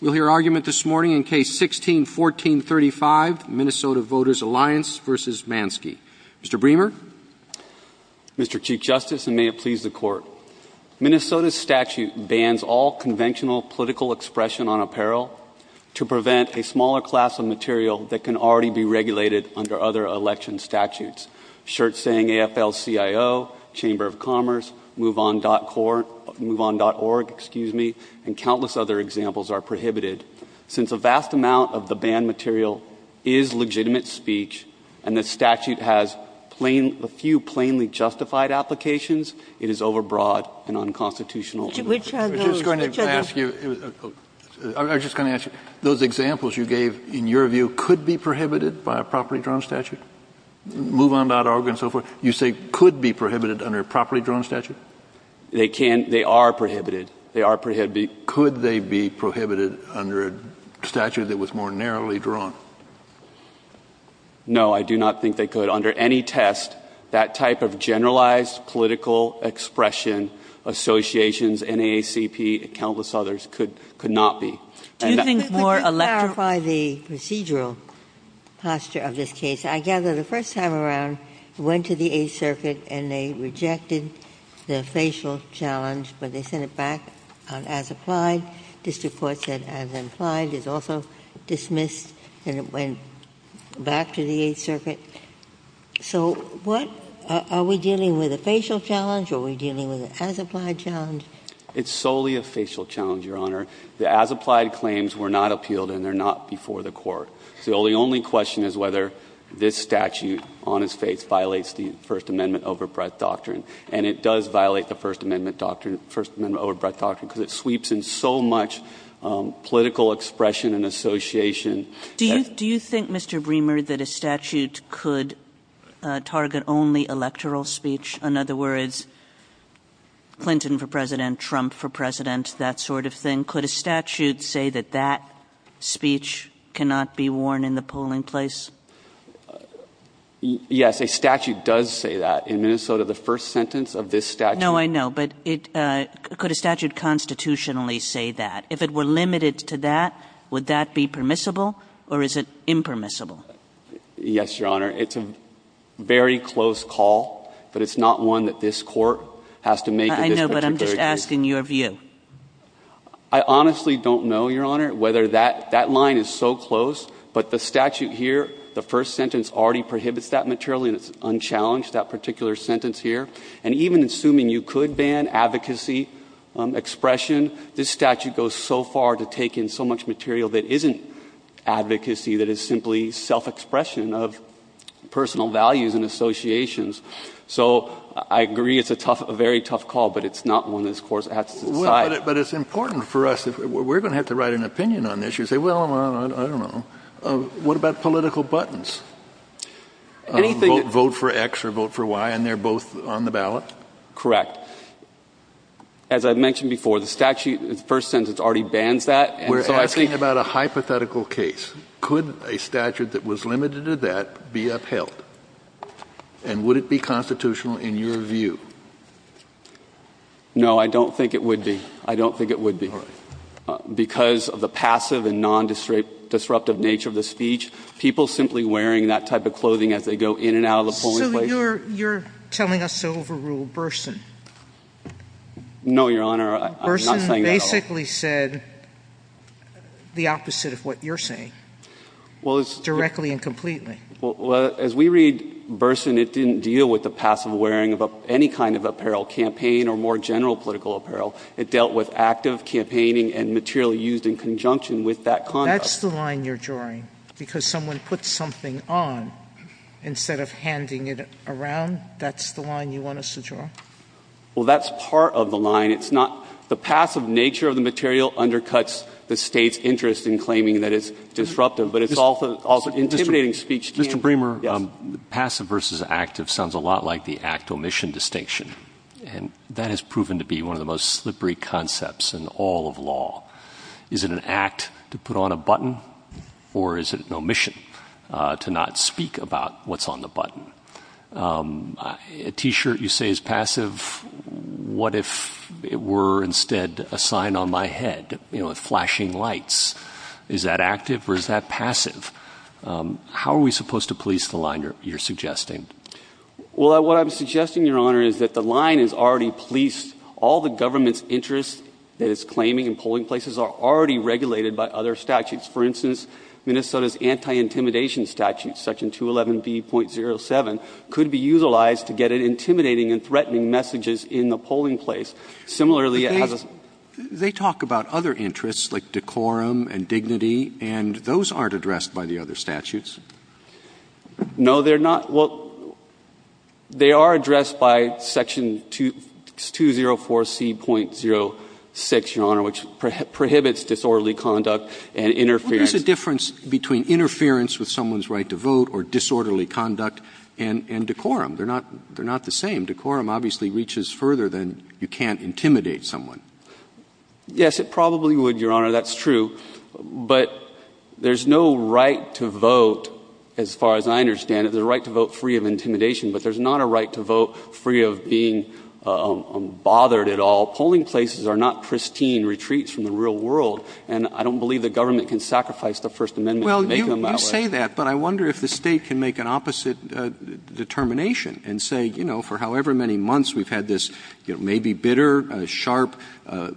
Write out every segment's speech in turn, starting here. We'll hear argument this morning in Case 16-1435, Minnesota Voters Alliance v. Mansky. Mr. Bremer. Mr. Chief Justice, and may it please the Court, Minnesota's statute bans all conventional political expression on apparel to prevent a smaller class of material that can already be regulated under other election statutes. Shirts saying AFL-CIO, Chamber of Commerce, MoveOn.org, excuse me, and countless other examples are prohibited. Since a vast amount of the banned material is legitimate speech, and the statute has a few plainly justified applications, it is overbroad and unconstitutional. Which are those? I was just going to ask you, those examples you gave, in your view, could be prohibited by a properly drawn statute? MoveOn.org and so forth, you say could be prohibited under a properly drawn statute? They can't. They are prohibited. They are prohibited. Could they be prohibited under a statute that was more narrowly drawn? No, I do not think they could. Under any test, that type of generalized political expression, associations, NAACP, countless others, could not be. Could you clarify the procedural posture of this case? I gather the first time around, it went to the Eighth Circuit and they rejected the facial challenge, but they sent it back on as-applied. District Court said as-applied is also dismissed, and it went back to the Eighth Circuit. So what are we dealing with, a facial challenge, or are we dealing with an as-applied challenge? It's solely a facial challenge, Your Honor. The as-applied claims were not appealed, and they're not before the Court. So the only question is whether this statute on its face violates the First Amendment overbreadth doctrine, and it does violate the First Amendment doctrine, First Amendment overbreadth doctrine, because it sweeps in so much political expression and association. Do you think, Mr. Bremer, that a statute could target only electoral speech? In other words, Clinton for President, Trump for President, that sort of thing. And could a statute say that that speech cannot be worn in the polling place? Yes, a statute does say that. In Minnesota, the first sentence of this statute. No, I know, but could a statute constitutionally say that? If it were limited to that, would that be permissible, or is it impermissible? Yes, Your Honor. It's a very close call, but it's not one that this Court has to make in this particular case. I know, but I'm just asking your view. I honestly don't know, Your Honor, whether that line is so close, but the statute here, the first sentence already prohibits that material, and it's unchallenged, that particular sentence here. And even assuming you could ban advocacy expression, this statute goes so far to take in so much material that isn't advocacy, that is simply self-expression of personal values and associations. So I agree it's a very tough call, but it's not one this Court has to decide. But it's important for us. We're going to have to write an opinion on this. You say, well, I don't know. What about political buttons? Vote for X or vote for Y, and they're both on the ballot? Correct. As I mentioned before, the statute, the first sentence already bans that. We're asking about a hypothetical case. Could a statute that was limited to that be upheld? And would it be constitutional in your view? No, I don't think it would be. I don't think it would be. All right. Because of the passive and non-disruptive nature of the speech, people simply wearing that type of clothing as they go in and out of the polling place. So you're telling us to overrule Burson? No, Your Honor, I'm not saying that at all. Burson basically said the opposite of what you're saying, directly and completely. Well, as we read Burson, it didn't deal with the passive wearing of any kind of apparel campaign or more general political apparel. It dealt with active campaigning and material used in conjunction with that conduct. That's the line you're drawing, because someone puts something on instead of handing it around? That's the line you want us to draw? Well, that's part of the line. It's not the passive nature of the material undercuts the State's interest in claiming that it's disruptive. Mr. Bremer, passive versus active sounds a lot like the act-omission distinction, and that has proven to be one of the most slippery concepts in all of law. Is it an act to put on a button, or is it an omission to not speak about what's on the button? A T-shirt you say is passive. What if it were instead a sign on my head, you know, flashing lights? Is that active or is that passive? How are we supposed to police the line you're suggesting? Well, what I'm suggesting, Your Honor, is that the line is already policed. All the government's interest that it's claiming in polling places are already regulated by other statutes. For instance, Minnesota's anti-intimidation statute, Section 211B.07, could be utilized to get at intimidating and threatening messages in the polling place. Similarly, it has a — They talk about other interests like decorum and dignity, and those aren't addressed by the other statutes. No, they're not. Well, they are addressed by Section 204C.06, Your Honor, which prohibits disorderly conduct and interference. Well, there's a difference between interference with someone's right to vote or disorderly conduct and decorum. They're not the same. Decorum obviously reaches further than you can't intimidate someone. Yes, it probably would, Your Honor. That's true. But there's no right to vote, as far as I understand it. There's a right to vote free of intimidation, but there's not a right to vote free of being bothered at all. Polling places are not pristine retreats from the real world, and I don't believe the government can sacrifice the First Amendment to make them that way. Well, you say that, but I wonder if the State can make an opposite determination and say, you know, for however many months we've had this maybe bitter, sharp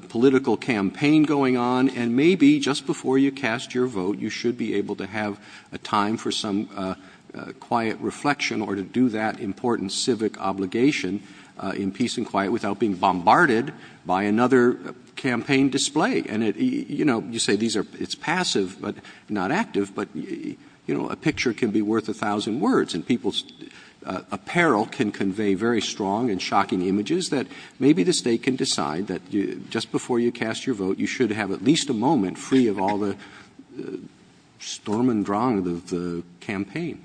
political campaign going on, and maybe just before you cast your vote, you should be able to have a time for some quiet reflection or to do that important civic obligation in peace and quiet without being bombarded by another campaign display. And, you know, you say it's passive but not active, but, you know, a picture can be worth a thousand words. And people's apparel can convey very strong and shocking images that maybe the State can decide that just before you cast your vote, you should have at least a moment free of all the storm and drong of the campaign.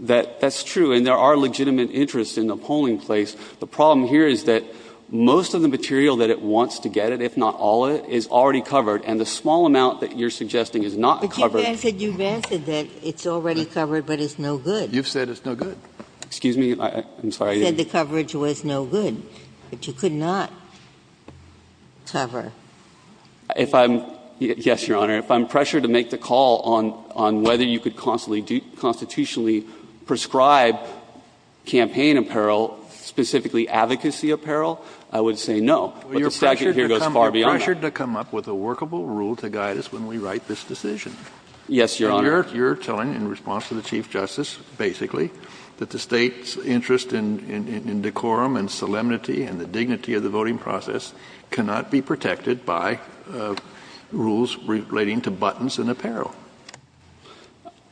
That's true. And there are legitimate interests in the polling place. The problem here is that most of the material that it wants to get, if not all of it, is already covered. And the small amount that you're suggesting is not covered. Ginsburg. You've answered that it's already covered, but it's no good. You've said it's no good. Excuse me? I'm sorry. You said the coverage was no good, but you could not cover. If I'm — yes, Your Honor. If I'm pressured to make the call on whether you could constitutionally prescribe campaign apparel, specifically advocacy apparel, I would say no. But the statute here goes far beyond that. You're pressured to come up with a workable rule to guide us when we write this decision. Yes, Your Honor. And you're telling, in response to the Chief Justice, basically, that the State's interest in decorum and solemnity and the dignity of the voting process cannot be protected by rules relating to buttons and apparel.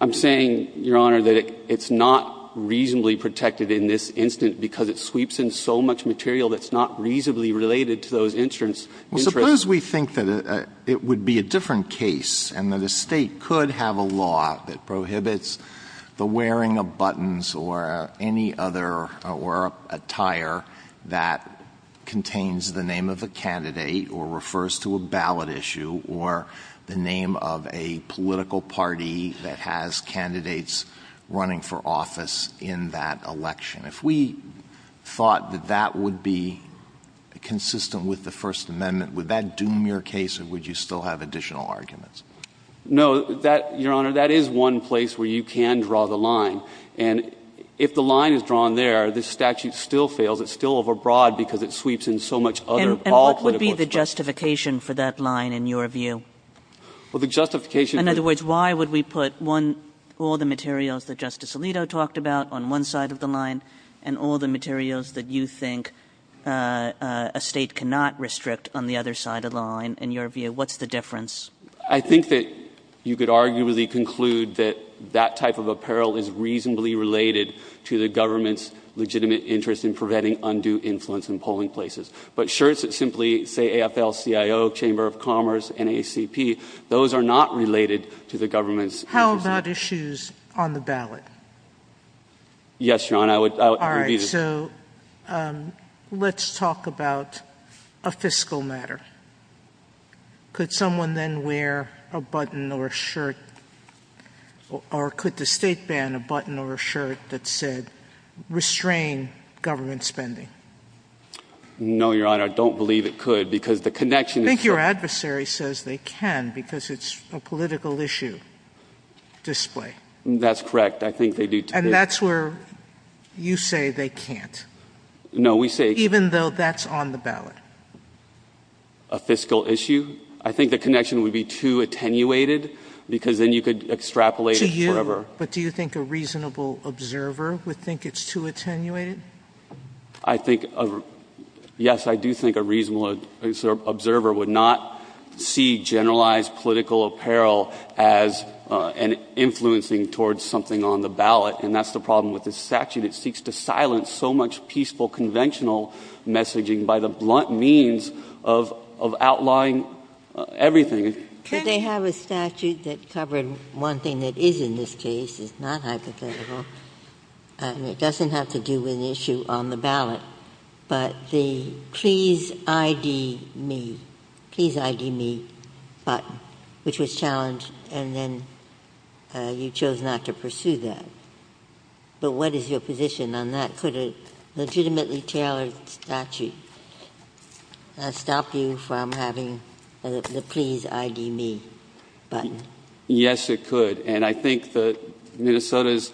I'm saying, Your Honor, that it's not reasonably protected in this instance because it sweeps in so much material that's not reasonably related to those interests. Well, suppose we think that it would be a different case and that a State could have a law that prohibits the wearing of buttons or any other — or attire that contains the name of a candidate or refers to a ballot issue or the name of a political party that has candidates running for office in that election. If we thought that that would be consistent with the First Amendment, would that doom your case or would you still have additional arguments? No. That, Your Honor, that is one place where you can draw the line. And if the line is drawn there, this statute still fails. It's still overbroad because it sweeps in so much other, all clinical experience. And what would be the justification for that line, in your view? Well, the justification — In other words, why would we put one — all the materials that Justice Alito talked about on one side of the line and all the materials that you think a State cannot restrict on the other side of the line, in your view? What's the difference? I think that you could arguably conclude that that type of apparel is reasonably related to the government's legitimate interest in preventing undue influence in polling places. But shirts that simply say AFL-CIO, Chamber of Commerce, NAACP, those are not related to the government's interest. How about issues on the ballot? Yes, Your Honor. I would — All right. So let's talk about a fiscal matter. Could someone then wear a button or a shirt or could the State ban a button or a shirt that said restrain government spending? No, Your Honor. I don't believe it could because the connection is — I think your adversary says they can because it's a political issue display. That's correct. I think they do today. And that's where you say they can't. No, we say — Even though that's on the ballot. A fiscal issue? I think the connection would be too attenuated because then you could extrapolate it forever. Do you — but do you think a reasonable observer would think it's too attenuated? I think — yes, I do think a reasonable observer would not see generalized political apparel as an influencing towards something on the ballot, and that's the problem with this statute. It seeks to silence so much peaceful conventional messaging by the blunt means of outlawing everything. Could they have a statute that covered one thing that is in this case, is not hypothetical, and it doesn't have to do with the issue on the ballot, but the please ID me, please ID me button, which was challenged, and then you chose not to pursue that. But what is your position on that? Could a legitimately tailored statute stop you from having the please ID me button? Yes, it could. And I think that Minnesota's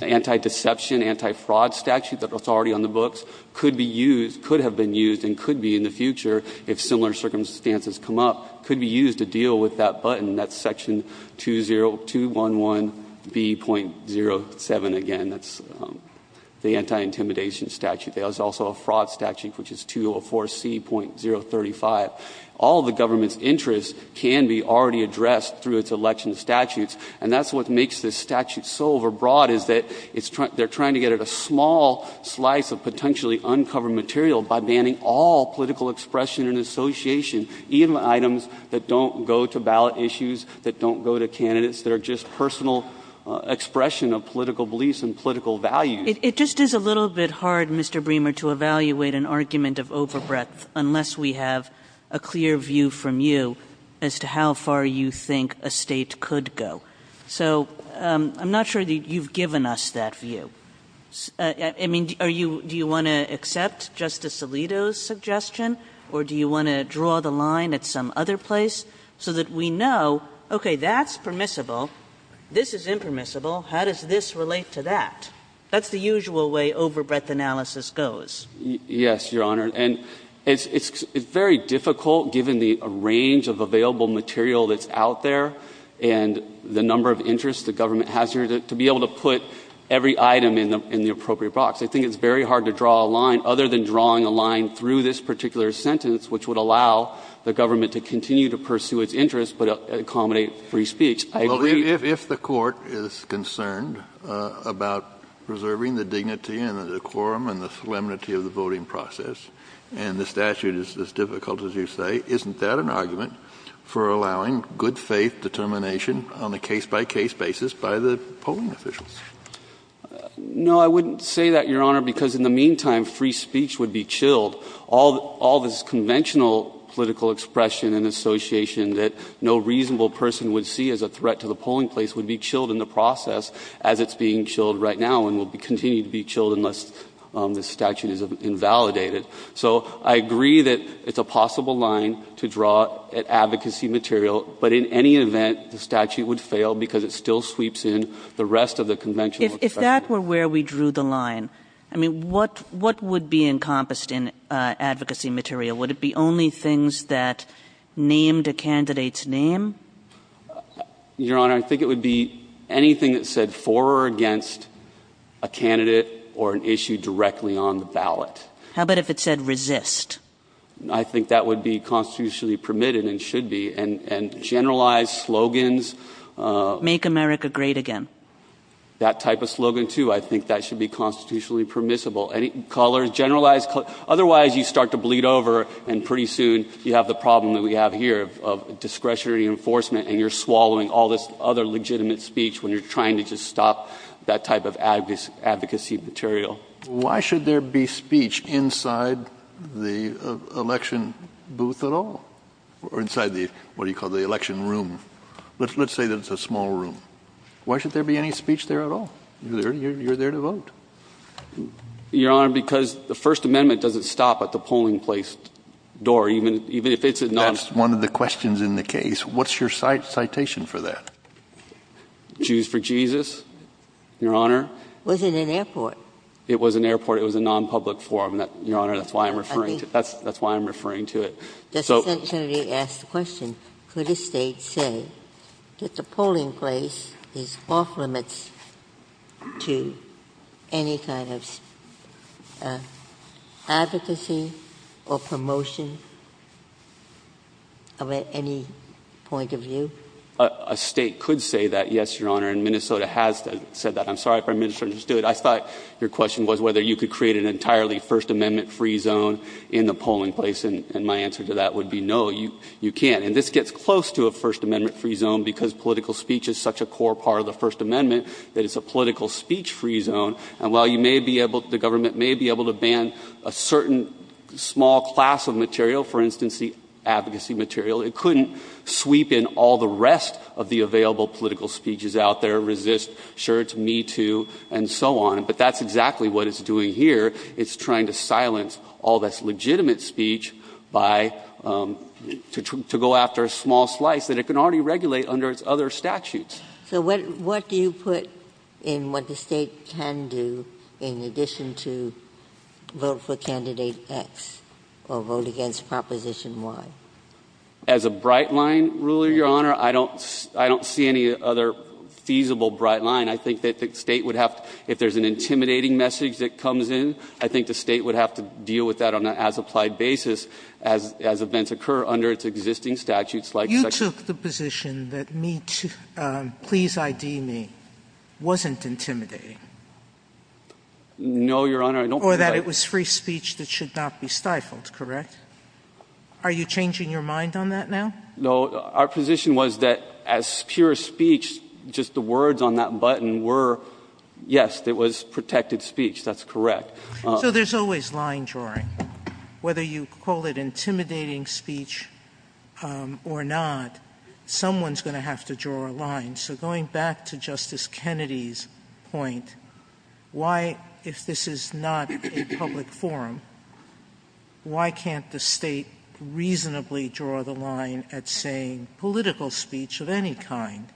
anti-deception, anti-fraud statute that's already on the books could be used — could have been used and could be in the future if similar circumstances come up, could be used to deal with that button. That's section 201B.07 again. That's the anti-intimidation statute. There's also a fraud statute, which is 204C.035. All of the government's interests can be already addressed through its election statutes, and that's what makes this statute so overbroad, is that it's trying — they're trying to get at a small slice of potentially uncovered material by banning all political expression and association, even items that don't go to ballot issues, that don't go to candidates, that are just personal expression of political beliefs and political values. It just is a little bit hard, Mr. Bremer, to evaluate an argument of overbreadth unless we have a clear view from you as to how far you think a State could go. So I'm not sure that you've given us that view. I mean, are you — do you want to accept Justice Alito's suggestion, or do you want to draw the line at some other place so that we know, okay, that's permissible, this is impermissible, how does this relate to that? That's the usual way overbreadth analysis goes. Yes, Your Honor. And it's very difficult, given the range of available material that's out there and the number of interests the government has here, to be able to put every item in the appropriate box. I think it's very hard to draw a line, other than drawing a line through this particular sentence, which would allow the government to continue to pursue its interests but accommodate free speech. I agree. Well, if the Court is concerned about preserving the dignity and the decorum and the solemnity of the voting process, and the statute is as difficult as you say, isn't that an argument for allowing good-faith determination on a case-by-case basis by the polling officials? No, I wouldn't say that, Your Honor, because in the meantime, free speech would be chilled. All this conventional political expression and association that no reasonable person would see as a threat to the polling place would be chilled in the process as it's being chilled right now and will continue to be chilled unless the statute is invalidated. So I agree that it's a possible line to draw at advocacy material, but in any event, the statute would fail because it still sweeps in the rest of the conventional expression. If that were where we drew the line, I mean, what would be encompassed in advocacy material? Would it be only things that named a candidate's name? Your Honor, I think it would be anything that said for or against a candidate or an issue directly on the ballot. How about if it said resist? I think that would be constitutionally permitted and should be, and generalized slogans. Make America great again. That type of slogan, too. I think that should be constitutionally permissible. Colors, generalized colors. Otherwise, you start to bleed over and pretty soon you have the problem that we have here of discretionary enforcement, and you're swallowing all this other legitimate speech when you're trying to just stop that type of advocacy material. Why should there be speech inside the election booth at all? Or inside the, what do you call it, the election room? Let's say that it's a small room. Why should there be any speech there at all? You're there to vote. Your Honor, because the First Amendment doesn't stop at the polling place door, even if it's a non- That's one of the questions in the case. What's your citation for that? Jews for Jesus, Your Honor. Was it an airport? It was an airport. It was a non-public forum, Your Honor. That's why I'm referring to it. Justice Kennedy asked the question, could a State say that the polling place is off limits to any kind of advocacy or promotion of any point of view? A State could say that, yes, Your Honor, and Minnesota has said that. I'm sorry if I misunderstood. I thought your question was whether you could create an entirely First Amendment free zone in the polling place, and my answer to that would be no, you can't. And this gets close to a First Amendment free zone because political speech is such a core part of the First Amendment that it's a political speech free zone, and while you may be able to, the government may be able to ban a certain small class of material, for instance, the advocacy material, it couldn't sweep in all the rest of the available political speeches out there, Resist, Sure It's Me Too, and so on. But that's exactly what it's doing here. It's trying to silence all this legitimate speech by, to go after a small slice that it can already regulate under its other statutes. Ginsburg. So what do you put in what the State can do in addition to vote for Candidate X or vote against Proposition Y? As a bright line, Ruler, Your Honor, I don't see any other feasible bright line. I think that the State would have to, if there's an intimidating message that comes in, I think the State would have to deal with that on an as-applied basis as events occur under its existing statutes. You took the position that Me Too, Please ID Me wasn't intimidating. No, Your Honor. Or that it was free speech that should not be stifled, correct? Are you changing your mind on that now? No. Our position was that as pure speech, just the words on that button were, yes, it was protected speech. That's correct. So there's always line drawing. Whether you call it intimidating speech or not, someone's going to have to draw a line. So going back to Justice Kennedy's point, why, if this is not a public forum, why can't the State reasonably draw the line at saying political speech of any kind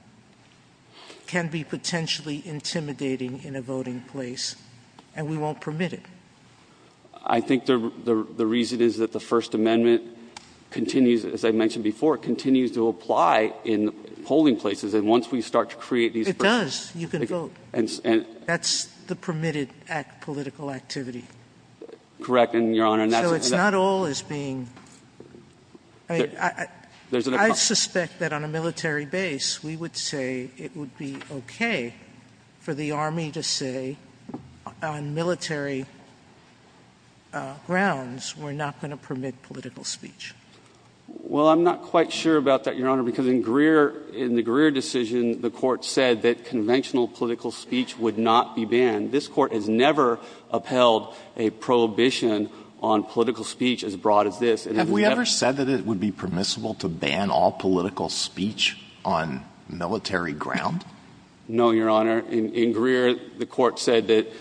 can be potentially intimidating in a voting place, and we won't permit it? I think the reason is that the First Amendment continues, as I mentioned before, continues to apply in polling places. And once we start to create these persons. It does. You can vote. That's the permitted political activity. Correct, Your Honor. So it's not all as being – I suspect that on a military base, we would say it would be okay for the Army to say, on military grounds, we're not going to permit political speech. Well, I'm not quite sure about that, Your Honor, because in Greer – in the Greer decision, the Court said that conventional political speech would not be banned. This Court has never upheld a prohibition on political speech as broad as this. Have we ever said that it would be permissible to ban all political speech on military grounds? No, Your Honor. In Greer, the Court said that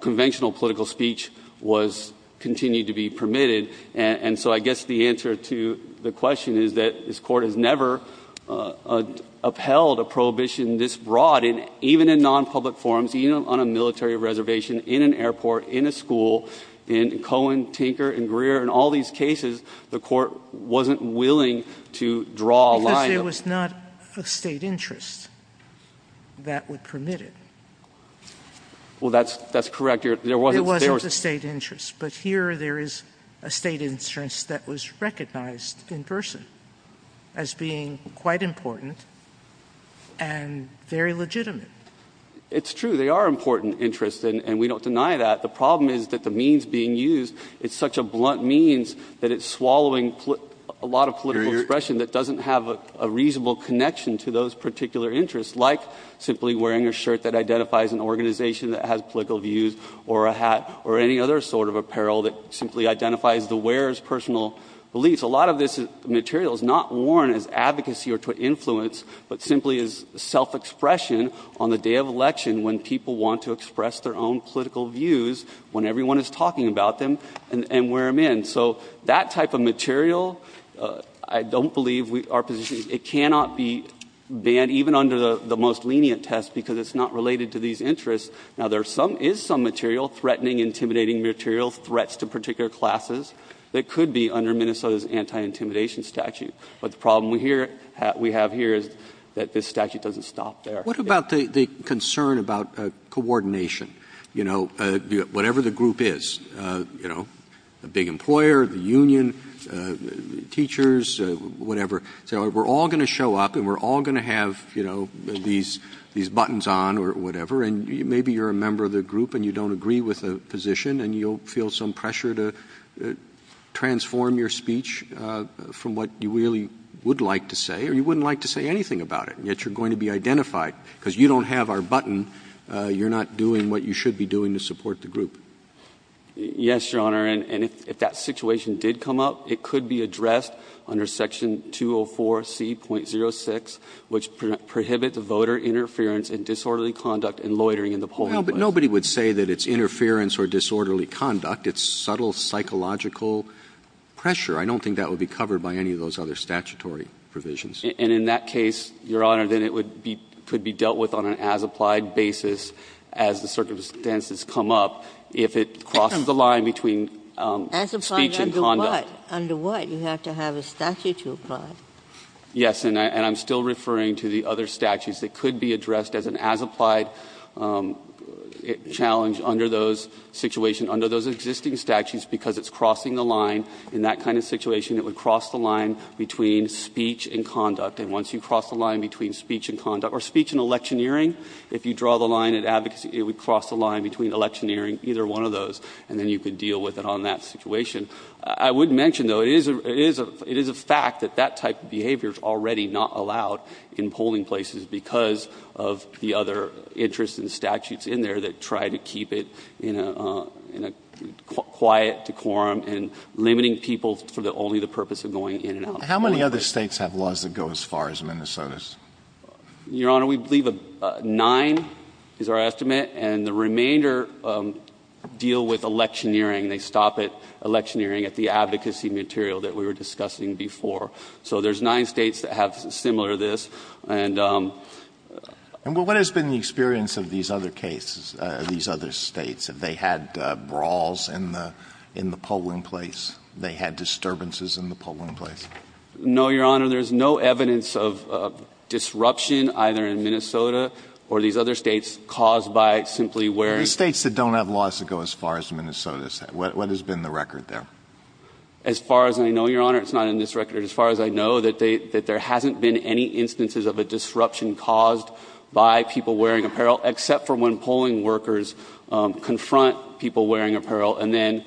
conventional political speech was – continued to be permitted. And so I guess the answer to the question is that this Court has never upheld a prohibition this broad. And even in nonpublic forums, even on a military reservation, in an airport, in a school, in Cohen, Tinker, in Greer, in all these cases, the Court wasn't willing to draw a line. Because there was not a State interest that would permit it. Well, that's correct, Your Honor. There wasn't a State interest. But here there is a State interest that was recognized in person as being quite important and very legitimate. It's true. There are important interests, and we don't deny that. The problem is that the means being used, it's such a blunt means that it's swallowing a lot of political expression that doesn't have a reasonable connection to those particular interests, like simply wearing a shirt that identifies an organization that has political views or a hat or any other sort of apparel that simply identifies the wearer's personal beliefs. A lot of this material is not worn as advocacy or to influence, but simply as self- expression on the day of election when people want to express their own political views when everyone is talking about them and wear them in. So that type of material, I don't believe our position is it cannot be banned, even under the most lenient test, because it's not related to these interests. Now, there is some material, threatening, intimidating material, threats to particular classes, that could be under Minnesota's anti-intimidation statute. But the problem we have here is that this statute doesn't stop there. What about the concern about coordination? Whatever the group is, the big employer, the union, teachers, whatever. We're all going to show up and we're all going to have these buttons on or whatever, and maybe you're a member of the group and you don't agree with the position and you'll feel some pressure to transform your speech from what you really would like to say, or you wouldn't like to say anything about it, and yet you're going to be identified because you don't have our button. You're not doing what you should be doing to support the group. Yes, Your Honor. And if that situation did come up, it could be addressed under section 204C.06, which prohibits the voter interference and disorderly conduct and loitering in the polling place. Well, but nobody would say that it's interference or disorderly conduct. It's subtle psychological pressure. I don't think that would be covered by any of those other statutory provisions. And in that case, Your Honor, then it would be, could be dealt with on an as-applied basis as the circumstances come up if it crosses the line between speech and conduct. As-applied under what? Under what? You have to have a statute to apply. Yes. And I'm still referring to the other statutes. It could be addressed as an as-applied challenge under those situations, under those existing statutes, because it's crossing the line. In that kind of situation, it would cross the line between speech and conduct. And once you cross the line between speech and conduct, or speech and electioneering, if you draw the line at advocacy, it would cross the line between electioneering, either one of those, and then you could deal with it on that situation. I would mention, though, it is a fact that that type of behavior is already not allowed in polling places because of the other interests and statutes in there that try to keep it in a quiet decorum and limiting people for only the purpose of going in and out. How many other States have laws that go as far as Minnesota's? Your Honor, we believe nine is our estimate. And the remainder deal with electioneering. They stop at electioneering at the advocacy material that we were discussing before. So there's nine States that have similar this. And what has been the experience of these other cases, these other States? Have they had brawls in the polling place? They had disturbances in the polling place? No, Your Honor. There's no evidence of disruption either in Minnesota or these other States caused by simply wearing. Are there States that don't have laws that go as far as Minnesota's? What has been the record there? As far as I know, Your Honor, it's not in this record. As far as I know, there hasn't been any instances of a disruption caused by people wearing apparel except for when polling workers confront people wearing apparel and then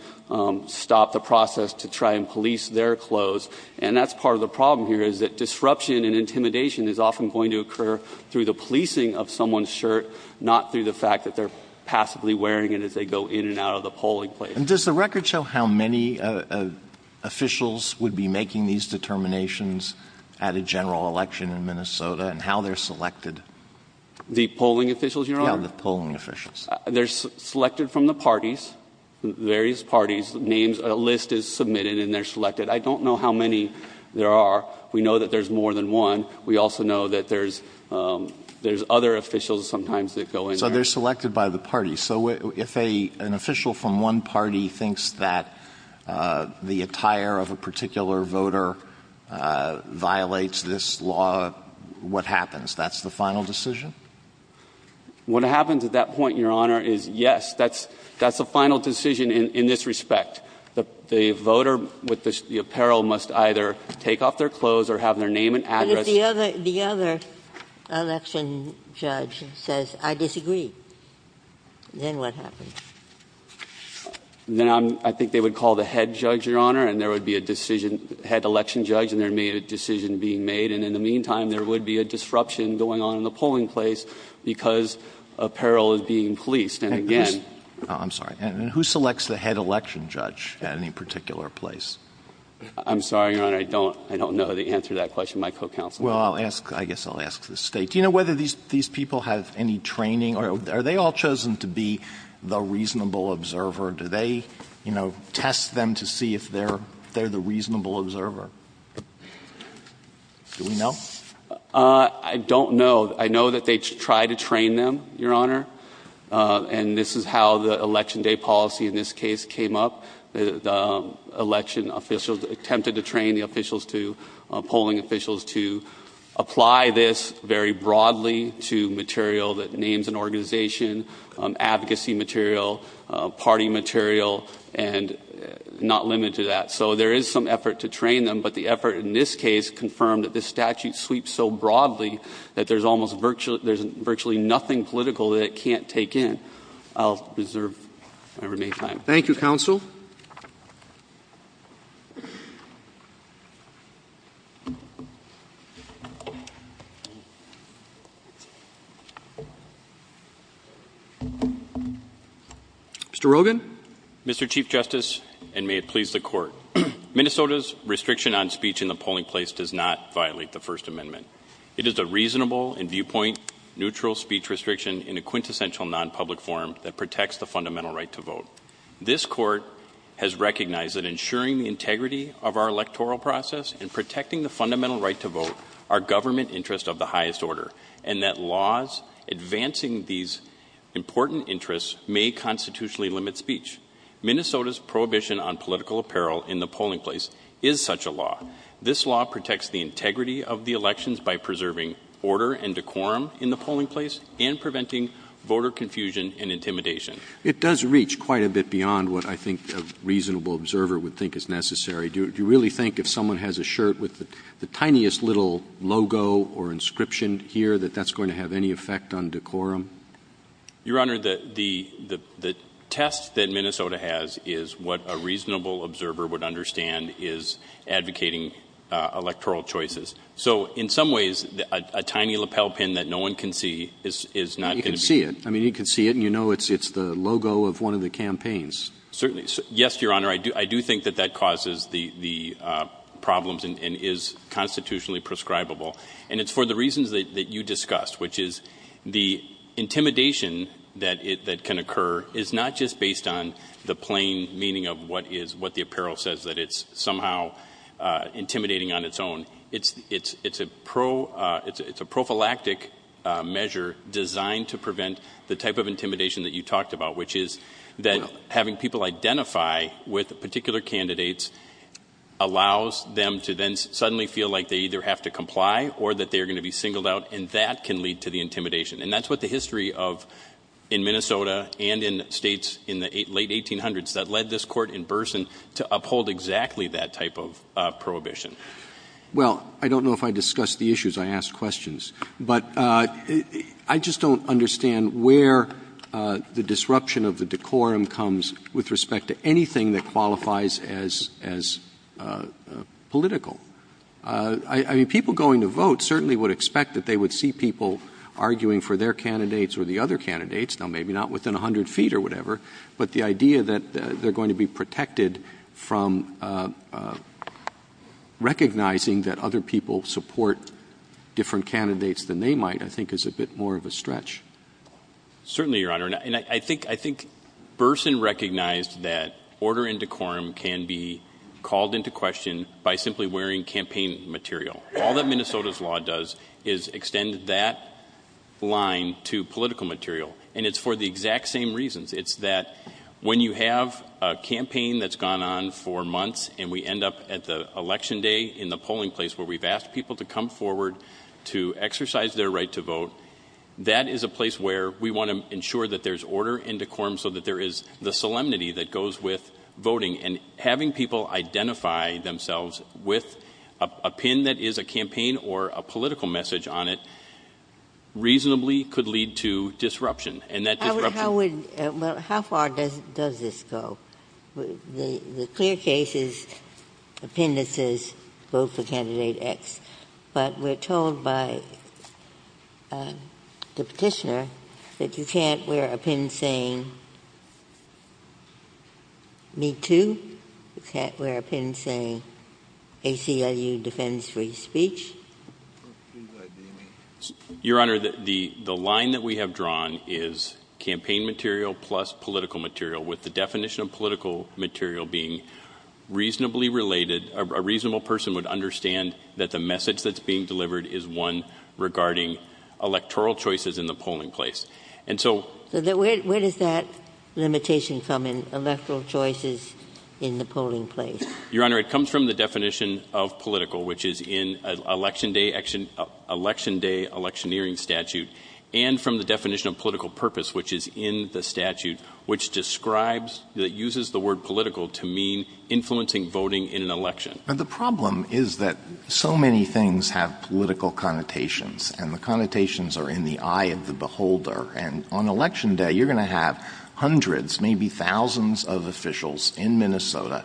stop the process to try and police their clothes. And that's part of the problem here is that disruption and intimidation is often going to occur through the policing of someone's shirt, not through the fact that they're passively wearing it as they go in and out of the polling place. And does the record show how many officials would be making these determinations at a general election in Minnesota and how they're selected? The polling officials, Your Honor? Yeah, the polling officials. They're selected from the parties, various parties, names. A list is submitted and they're selected. I don't know how many there are. We know that there's more than one. We also know that there's other officials sometimes that go in there. So they're selected by the parties. So if an official from one party thinks that the attire of a particular voter violates this law, what happens? That's the final decision? What happens at that point, Your Honor, is yes, that's a final decision in this respect. The voter with the apparel must either take off their clothes or have their name and address. But if the other election judge says, I disagree, then what happens? Then I think they would call the head judge, Your Honor, and there would be a decision head election judge and there would be a decision being made. And in the meantime, there would be a disruption going on in the polling place because apparel is being policed. And again. I'm sorry. Who selects the head election judge at any particular place? I'm sorry, Your Honor. I don't know the answer to that question. My co-counsel. Well, I'll ask, I guess I'll ask the State. Do you know whether these people have any training? Are they all chosen to be the reasonable observer? Do they, you know, test them to see if they're the reasonable observer? Do we know? I don't know. I know that they try to train them, Your Honor. And this is how the Election Day policy in this case came up. The election officials attempted to train the officials to, polling officials to apply this very broadly to material that names an organization, advocacy material, party material, and not limited to that. So there is some effort to train them. But the effort in this case confirmed that this statute sweeps so broadly that there's almost virtually nothing political that it can't take in. I'll reserve my remaining time. Thank you, Counsel. Mr. Rogin. Mr. Chief Justice, and may it please the Court. Minnesota's restriction on speech in the polling place does not violate the First Amendment. It is a reasonable and viewpoint-neutral speech restriction in a quintessential non-public forum that protects the fundamental right to vote. This Court has recognized that ensuring the integrity of our electoral process and protecting the fundamental right to vote are government interests of the highest order and that laws advancing these important interests may constitutionally limit speech. Minnesota's prohibition on political apparel in the polling place is such a law. This law protects the integrity of the elections by preserving order and decorum in the polling place and preventing voter confusion and intimidation. It does reach quite a bit beyond what I think a reasonable observer would think is necessary. Do you really think if someone has a shirt with the tiniest little logo or inscription here that that's going to have any effect on decorum? Your Honor, the test that Minnesota has is what a reasonable observer would understand is advocating electoral choices. So in some ways, a tiny lapel pin that no one can see is not going to be. You can see it. I mean, you can see it and you know it's the logo of one of the campaigns. Certainly. Yes, Your Honor, I do think that that causes the problems and is constitutionally prescribable. And it's for the reasons that you discussed, which is the intimidation that can occur is not just based on the plain meaning of what the apparel says, that it's somehow intimidating on its own. It's a prophylactic measure designed to prevent the type of intimidation that you talked about, which is that having people identify with particular candidates allows them to then suddenly feel like they either have to comply or that they are going to be singled out. And that can lead to the intimidation. And that's what the history of in Minnesota and in states in the late 1800s that led this court in Burson to uphold exactly that type of prohibition. Well, I don't know if I discussed the issues. I asked questions. But I just don't understand where the disruption of the decorum comes with respect to anything that qualifies as political. I mean, people going to vote certainly would expect that they would see people arguing for their candidates or the other candidates. Now, maybe not within 100 feet or whatever. But the idea that they are going to be protected from recognizing that other people support different candidates than they might, I think, is a bit more of a stretch. Certainly, Your Honor. And I think Burson recognized that order and decorum can be called into question by simply wearing campaign material. All that Minnesota's law does is extend that line to political material. And it's for the exact same reasons. It's that when you have a campaign that's gone on for months and we end up at the election day in the polling place where we've asked people to come forward to exercise their right to vote, that is a place where we want to ensure that there's order and decorum so that there is the solemnity that goes with voting. And having people identify themselves with a pin that is a campaign or a political message on it reasonably could lead to disruption. And that disruption — How would — well, how far does this go? The clear case is appendices vote for candidate X. But we're told by the Petitioner that you can't wear a pin saying, me too. You can't wear a pin saying, ACLU defends free speech. Your Honor, the line that we have drawn is campaign material plus political material, with the definition of political material being reasonably related. A reasonable person would understand that the message that's being delivered is one regarding electoral choices in the polling place. And so — Where does that limitation come in, electoral choices in the polling place? Your Honor, it comes from the definition of political, which is in Election Day Electioneering Statute, and from the definition of political purpose, which is in the statute, which describes — that uses the word political to mean influencing voting in an election. But the problem is that so many things have political connotations, and the connotations are in the eye of the beholder. And on Election Day, you're going to have hundreds, maybe thousands of officials in Minnesota,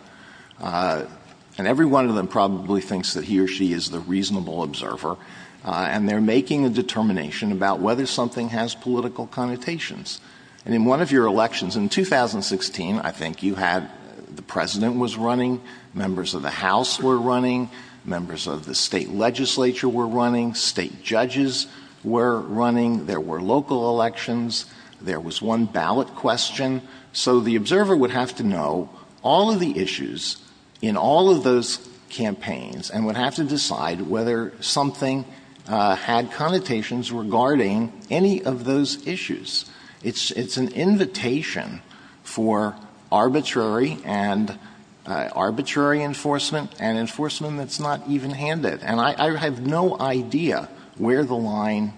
and every one of them probably thinks that he or she is the reasonable observer, and they're making a determination about whether something has political connotations. And in one of your elections in 2016, I think you had — the president was running, members of the House were running, members of the state legislature were running, state judges were running, there were local elections, there was one ballot question. So the observer would have to know all of the issues in all of those campaigns and would have to decide whether something had connotations regarding any of those issues. It's an invitation for arbitrary and — arbitrary enforcement and enforcement that's not even-handed. And I have no idea where the line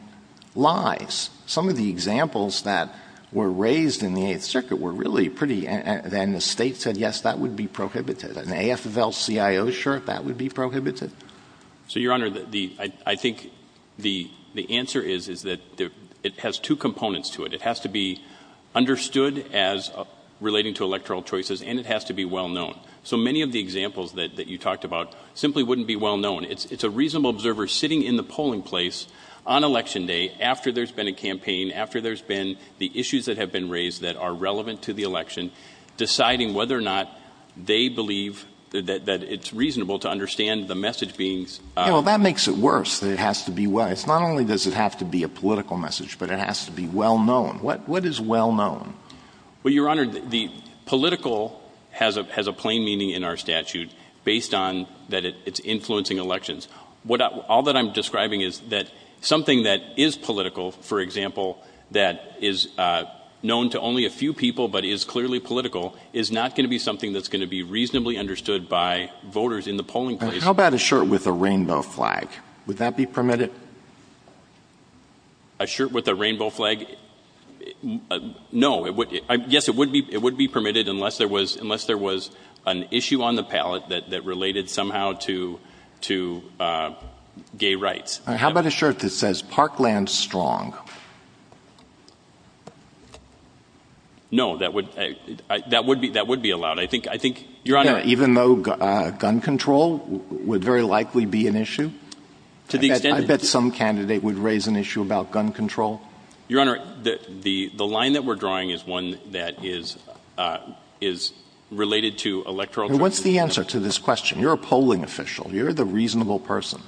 lies. Some of the examples that were raised in the Eighth Circuit were really pretty — and the State said, yes, that would be prohibited. An AFL-CIO shirt, that would be prohibited? So, Your Honor, the — I think the answer is, is that it has two components to it. It has to be understood as relating to electoral choices, and it has to be well-known. So many of the examples that you talked about simply wouldn't be well-known. It's a reasonable observer sitting in the polling place on Election Day after there's been a campaign, after there's been the issues that have been raised that are relevant to the election, deciding whether or not they believe that it's reasonable to understand the message being — Yeah, well, that makes it worse, that it has to be well — it's not only does it have to be a political message, but it has to be well-known. What is well-known? Well, Your Honor, the political has a plain meaning in our statute based on that it's influencing elections. All that I'm describing is that something that is political, for example, that is known to only a few people but is clearly political, is not going to be something that's going to be reasonably understood by voters in the polling place. How about a shirt with a rainbow flag? Would that be permitted? A shirt with a rainbow flag? No. Yes, it would be permitted unless there was an issue on the palette that related somehow to gay rights. How about a shirt that says Parkland Strong? No. That would be allowed. I think, Your Honor — Even though gun control would very likely be an issue? To the extent — I bet some candidate would raise an issue about gun control. Your Honor, the line that we're drawing is one that is related to electoral — What's the answer to this question? You're a polling official. You're the reasonable person.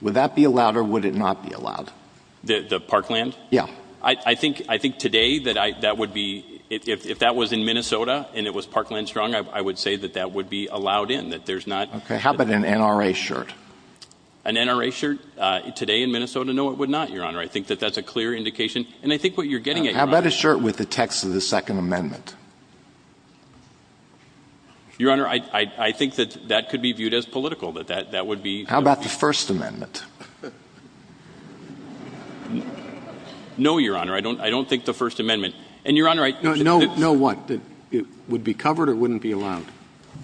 Would that be allowed or would it not be allowed? The Parkland? Yeah. I think today that would be — if that was in Minnesota and it was Parkland Strong, I would say that that would be allowed in, that there's not — How about an NRA shirt? An NRA shirt today in Minnesota? No, it would not, Your Honor. I think that that's a clear indication. And I think what you're getting at, Your Honor — How about a shirt with the text of the Second Amendment? Your Honor, I think that that could be viewed as political, that that would be — How about the First Amendment? No, Your Honor. I don't think the First Amendment. And, Your Honor, I — No what? It would be covered or wouldn't be allowed?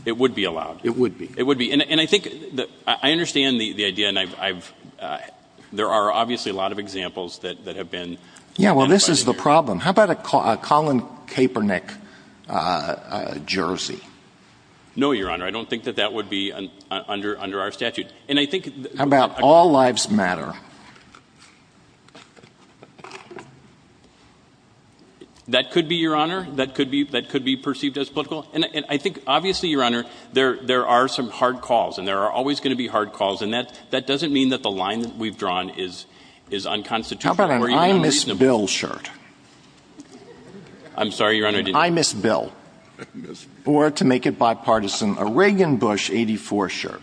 It would be allowed. It would be. It would be. And I think — I understand the idea and I've — there are obviously a lot of examples that have been — Yeah, well, this is the problem. How about a Colin Kaepernick jersey? No, Your Honor. I don't think that that would be under our statute. And I think — How about All Lives Matter? That could be, Your Honor. That could be perceived as political. And I think, obviously, Your Honor, there are some hard calls, and there are always going to be hard calls. And that doesn't mean that the line that we've drawn is unconstitutional or even unreasonable. How about an I Miss Bill shirt? I'm sorry, Your Honor, I didn't — An I Miss Bill. Or, to make it bipartisan, a Reagan-Bush 84 shirt.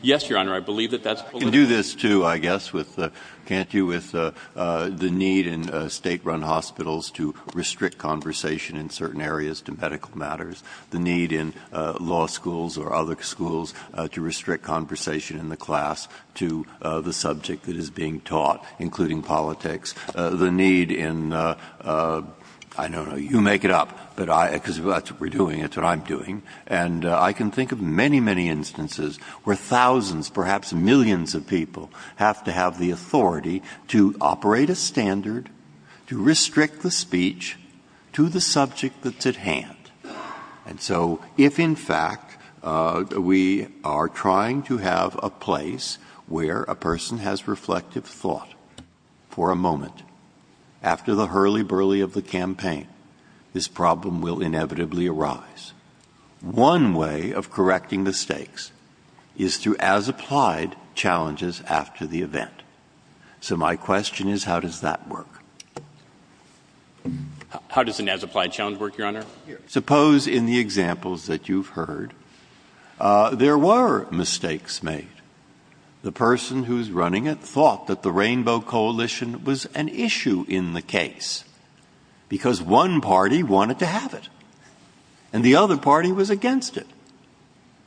Yes, Your Honor. I believe that that's political. I can do this, too, I guess, with — can't you? With the need in State-run hospitals to restrict conversation in certain areas to medical matters, the need in law schools or other schools to restrict conversation in the class to the subject that is being taught, including politics, the need in — I don't know. You make it up. But I — because that's what we're doing. It's what I'm doing. And I can think of many, many instances where thousands, perhaps millions of people have to have the authority to operate a standard, to restrict the speech to the subject that's at hand. And so if, in fact, we are trying to have a place where a person has reflective thought for a moment after the hurly-burly of the campaign, this problem will inevitably arise. One way of correcting mistakes is through as-applied challenges after the event. So my question is, how does that work? How does an as-applied challenge work, Your Honor? Suppose, in the examples that you've heard, there were mistakes made. The person who's running it thought that the Rainbow Coalition was an issue in the case, because one party wanted to have it, and the other party was against it.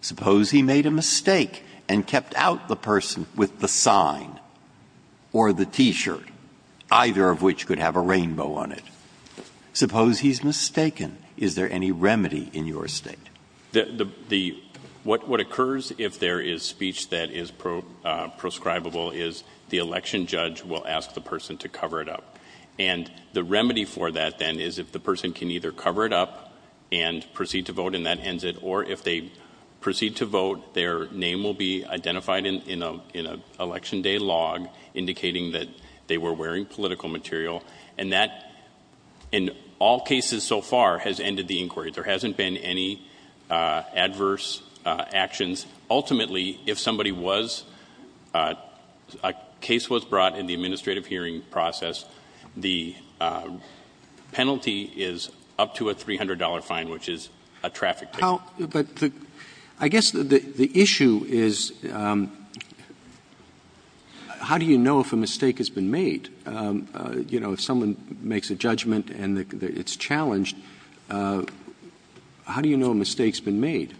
Suppose he made a mistake and kept out the person with the sign or the T-shirt, either of which could have a rainbow on it. Suppose he's mistaken. Is there any remedy in your state? What occurs if there is speech that is proscribable is the election judge will ask the person to cover it up. And the remedy for that, then, is if the person can either cover it up and proceed to vote, and that ends it, or if they proceed to vote, their name will be identified in an election day log indicating that they were wearing political material. And that, in all cases so far, has ended the inquiry. There hasn't been any adverse actions. Ultimately, if somebody was — a case was brought in the administrative hearing process, the penalty is up to a $300 fine, which is a traffic ticket. But I guess the issue is how do you know if a mistake has been made? You know, if someone makes a judgment and it's challenged, how do you know a mistake has been made?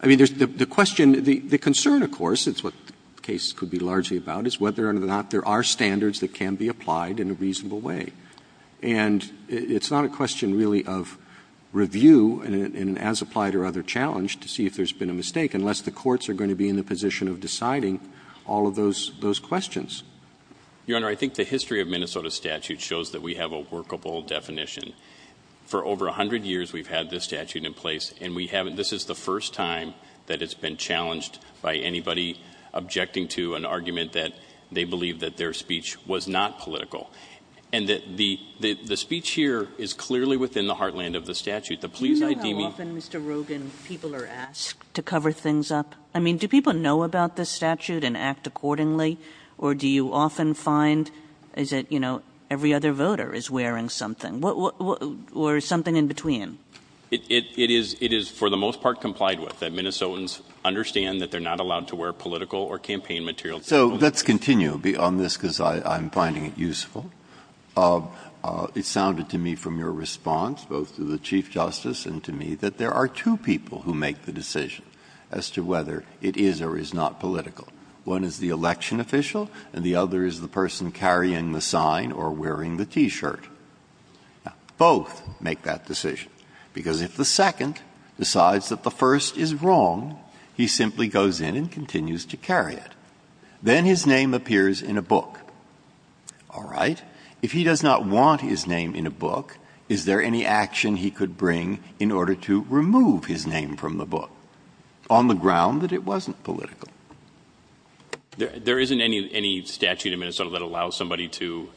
I mean, the question — the concern, of course, is what the case could be largely about, is whether or not there are standards that can be applied in a reasonable way. And it's not a question, really, of review in an as-applied or other challenge to see if there's been a mistake, unless the courts are going to be in the position of deciding all of those questions. Your Honor, I think the history of Minnesota statute shows that we have a workable definition. For over 100 years, we've had this statute in place, and we haven't — this is the first time that it's been challenged by anybody objecting to an argument that they believe that their speech was not political. And the speech here is clearly within the heartland of the statute. The police ID — Do you know how often, Mr. Rogin, people are asked to cover things up? I mean, do people know about this statute and act accordingly, or do you often find, is it, you know, every other voter is wearing something? Or something in between? It is for the most part complied with, that Minnesotans understand that they're not allowed to wear political or campaign material. So let's continue on this, because I'm finding it useful. It sounded to me from your response, both to the Chief Justice and to me, that there are two people who make the decision as to whether it is or is not political. One is the election official, and the other is the person carrying the sign or wearing the T-shirt. Both make that decision, because if the second decides that the first is wrong, he simply goes in and continues to carry it. Then his name appears in a book. All right? If he does not want his name in a book, is there any action he could bring in order to remove his name from the book, on the ground that it wasn't political? There isn't any statute in Minnesota that allows somebody to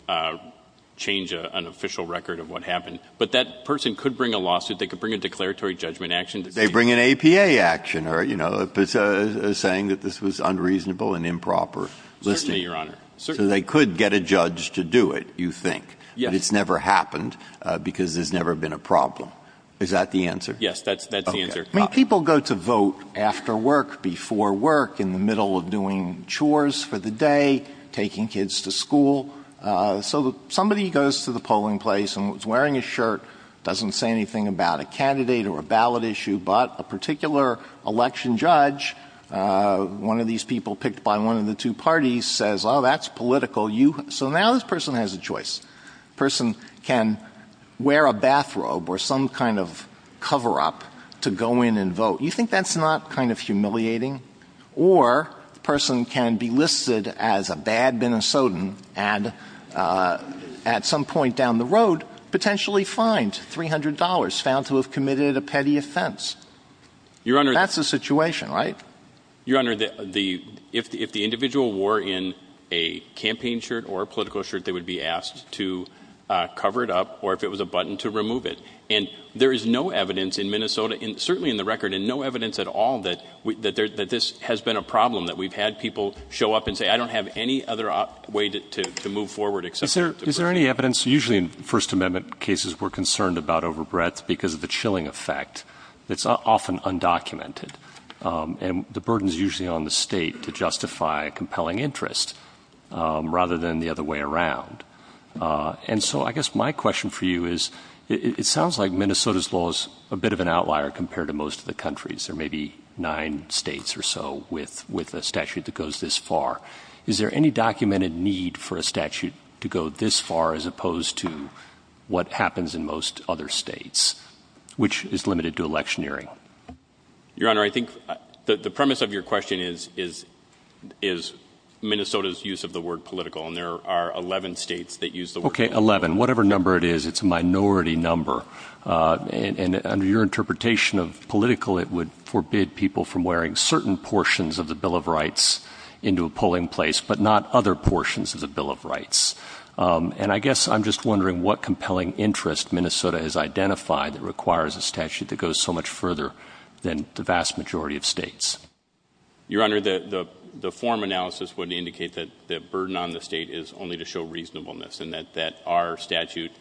change an official record of what happened, but that person could bring a lawsuit. They could bring a declaratory judgment action. They bring an APA action, or, you know, saying that this was unreasonable and improper listing. Certainly, Your Honor. So they could get a judge to do it, you think. Yes. But it's never happened, because there's never been a problem. Is that the answer? Yes, that's the answer. Okay. I mean, people go to vote after work, before work, in the middle of doing chores for the day, taking kids to school. So somebody goes to the polling place and is wearing a shirt, doesn't say anything about a candidate or a ballot issue, but a particular election judge, one of these people picked by one of the two parties, says, oh, that's political. So now this person has a choice. The person can wear a bathrobe or some kind of cover-up to go in and vote. You think that's not kind of humiliating? Or the person can be listed as a bad Minnesotan and at some point down the road potentially fined $300, found to have committed a petty offense. Your Honor. That's the situation, right? Your Honor, if the individual wore in a campaign shirt or a political shirt, they would be asked to cover it up, or if it was a button, to remove it. And there is no evidence in Minnesota, and certainly in the record, and no evidence at all that this has been a problem, that we've had people show up and say, I don't have any other way to move forward except to vote. Is there any evidence? Usually in First Amendment cases, we're concerned about overbreadth because of the chilling effect. It's often undocumented. And the burden is usually on the State to justify compelling interest, rather than the other way around. And so I guess my question for you is, it sounds like Minnesota's law is a bit of an outlier compared to most of the countries. There may be nine States or so with a statute that goes this far. Is there any documented need for a statute to go this far as opposed to what happens in most other States, which is limited to electioneering? Your Honor, I think the premise of your question is Minnesota's use of the word political. And there are 11 States that use the word political. Okay, 11. Whatever number it is, it's a minority number. And under your interpretation of political, it would forbid people from wearing certain portions of the Bill of Rights into a polling place, but not other portions of the Bill of Rights. And I guess I'm just wondering what compelling interest Minnesota has identified that requires a statute that goes so much further than the vast majority of States. Your Honor, the form analysis would indicate that the burden on the State is only to show reasonableness, and that our statute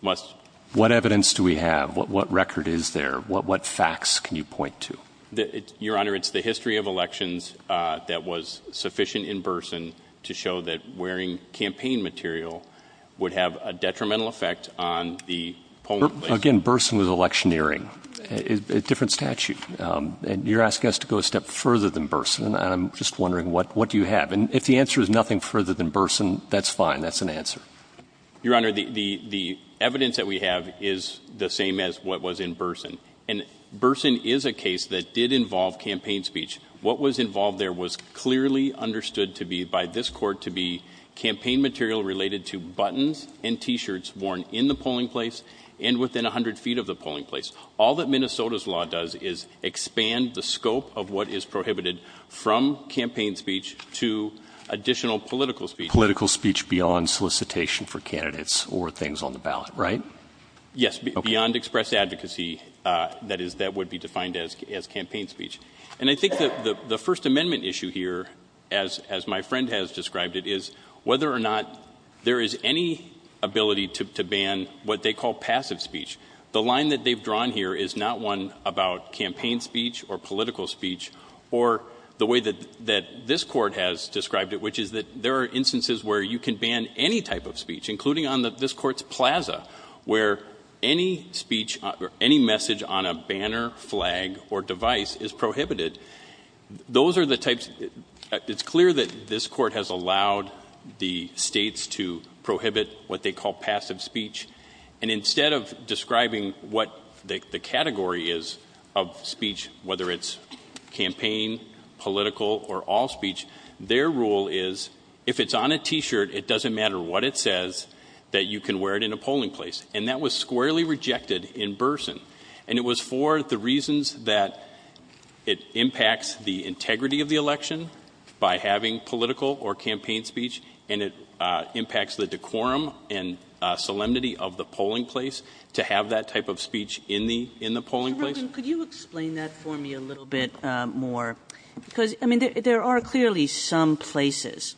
must... What evidence do we have? What record is there? What facts can you point to? Your Honor, it's the history of elections that was sufficient in Burson to show that wearing campaign material would have a detrimental effect on the polling place. Again, Burson was electioneering, a different statute. And you're asking us to go a step further than Burson, and I'm just wondering what do you have. And if the answer is nothing further than Burson, that's fine. That's an answer. Your Honor, the evidence that we have is the same as what was in Burson. And Burson is a case that did involve campaign speech. What was involved there was clearly understood to be, by this Court, to be campaign material related to buttons and T-shirts worn in the polling place and within 100 feet of the polling place. All that Minnesota's law does is expand the scope of what is prohibited from campaign speech to additional political speech. Political speech beyond solicitation for candidates or things on the ballot, right? Yes, beyond express advocacy. That is, that would be defined as campaign speech. And I think the First Amendment issue here, as my friend has described it, is whether or not there is any ability to ban what they call passive speech. The line that they've drawn here is not one about campaign speech or political speech or the way that this Court has described it, which is that there are instances where you can ban any type of speech, including on this Court's plaza, where any speech or any message on a banner, flag, or device is prohibited. Those are the types. It's clear that this Court has allowed the states to prohibit what they call passive speech. And instead of describing what the category is of speech, whether it's campaign, political, or all speech, their rule is if it's on a T-shirt, it doesn't matter what it says, that you can wear it in a polling place. And that was squarely rejected in Burson. And it was for the reasons that it impacts the integrity of the election by having political or campaign speech, and it impacts the decorum and solemnity of the polling place. Kagan. Could you explain that for me a little bit more? Because, I mean, there are clearly some places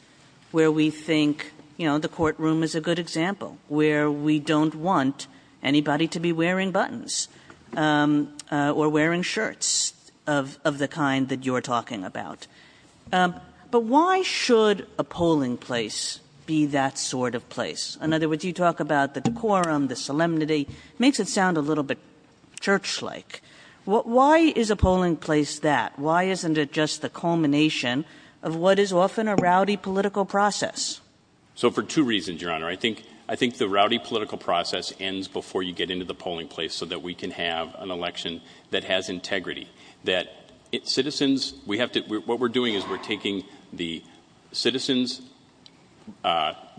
where we think, you know, the courtroom is a good example, where we don't want anybody to be wearing buttons or wearing shirts of the kind that you're talking about. But why should a polling place be that sort of place? In other words, you talk about the decorum, the solemnity. It makes it sound a little bit church-like. Why is a polling place that? Why isn't it just the culmination of what is often a rowdy political process? So, for two reasons, Your Honor. I think the rowdy political process ends before you get into the polling place so that we can have an election that has integrity. That citizens, we have to, what we're doing is we're taking the citizens'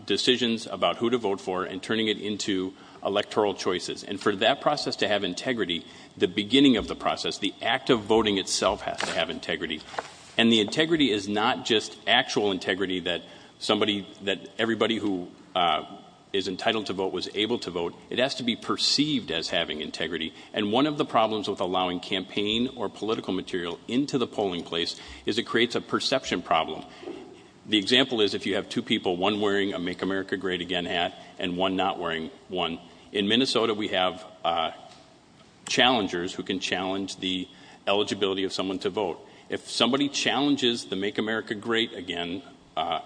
decisions about who to vote for and turning it into electoral choices. And for that process to have integrity, the beginning of the process, the act of voting itself has to have integrity. And the integrity is not just actual integrity that somebody, that everybody who is entitled to vote was able to vote. It has to be perceived as having integrity. And one of the problems with allowing campaign or political material into the polling place is it creates a perception problem. The example is if you have two people, one wearing a Make America Great Again hat and one not wearing one. In Minnesota, we have challengers who can challenge the eligibility of someone to vote. If somebody challenges the Make America Great Again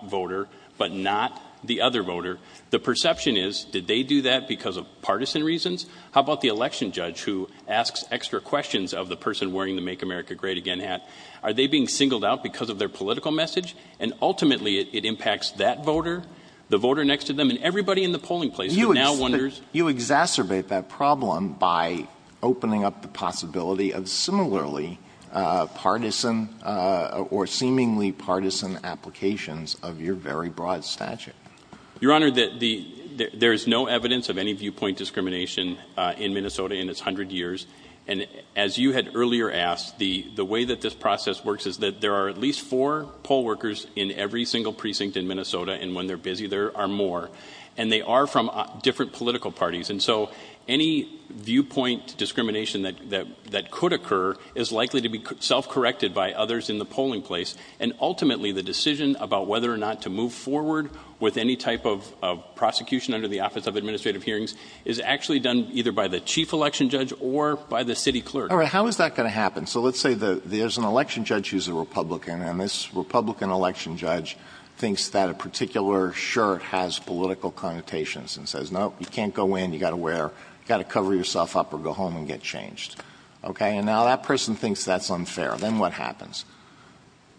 voter but not the other voter, the perception is, did they do that because of partisan reasons? How about the election judge who asks extra questions of the person wearing the Make America Great Again hat? Are they being singled out because of their political message? And ultimately, it impacts that voter, the voter next to them, and everybody in the polling place who now wonders. You exacerbate that problem by opening up the possibility of similarly partisan or seemingly partisan applications of your very broad statute. Your Honor, there is no evidence of any viewpoint discrimination in Minnesota in its hundred years. And as you had earlier asked, the way that this process works is that there are at least four poll workers in every single precinct in Minnesota. And when they're busy, there are more. And they are from different political parties. And so any viewpoint discrimination that could occur is likely to be self-corrected by others in the polling place. And ultimately, the decision about whether or not to move forward with any type of prosecution under the Office of Administrative Hearings is actually done either by the chief election judge or by the city clerk. All right. How is that going to happen? So let's say there's an election judge who's a Republican. And this Republican election judge thinks that a particular shirt has political connotations and says, nope, you can't go in. You've got to cover yourself up or go home and get changed. OK? And now that person thinks that's unfair. Then what happens?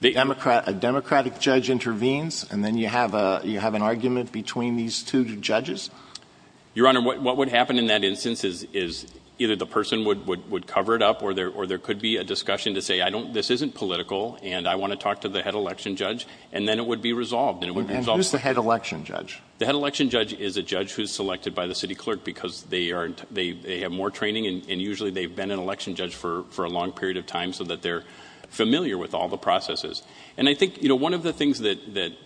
A Democratic judge intervenes. And then you have an argument between these two judges? Your Honor, what would happen in that instance is either the person would cover it up or there could be a discussion to say, this isn't political. And I want to talk to the head election judge. And then it would be resolved. And it would resolve. And who's the head election judge? The head election judge is a judge who is selected by the city clerk because they have more training. And usually, they've been an election judge for a long period of time so that they're familiar with all the processes. And I think one of the things that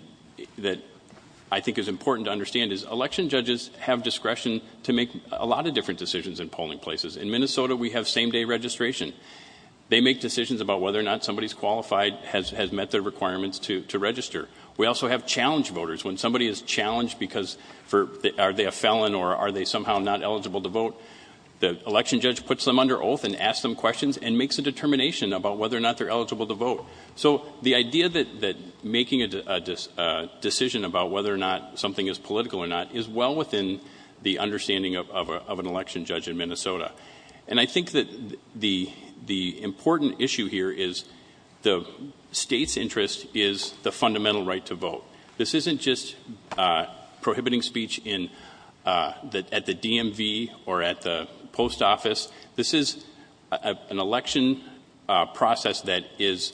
I think is important to understand is election judges have discretion to make a lot of different decisions in polling places. In Minnesota, we have same-day registration. They make decisions about whether or not somebody's qualified, has met their requirements to register. We also have challenge voters. When somebody is challenged because are they a felon or are they somehow not eligible to vote, the election judge puts them under oath and asks them questions and makes a determination about whether or not they're eligible to vote. So the idea that making a decision about whether or not something is political or not is well within the understanding of an election judge in Minnesota. And I think that the important issue here is the state's interest is the fundamental right to vote. This isn't just prohibiting speech at the DMV or at the post office. This is an election process that is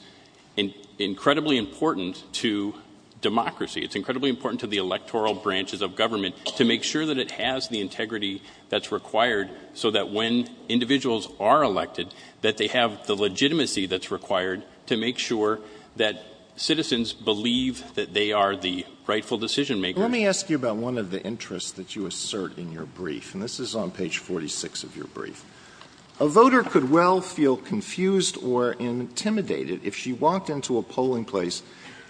incredibly important to democracy. It's incredibly important to the electoral branches of government to make sure that it has the integrity that's required so that when individuals are elected, that they have the legitimacy that's required to make sure that citizens believe that they are the rightful decision-makers. Alito Let me ask you about one of the interests that you assert in your brief. And this is on page 46 of your brief. A voter could well feel confused or intimidated if she walked into a polling place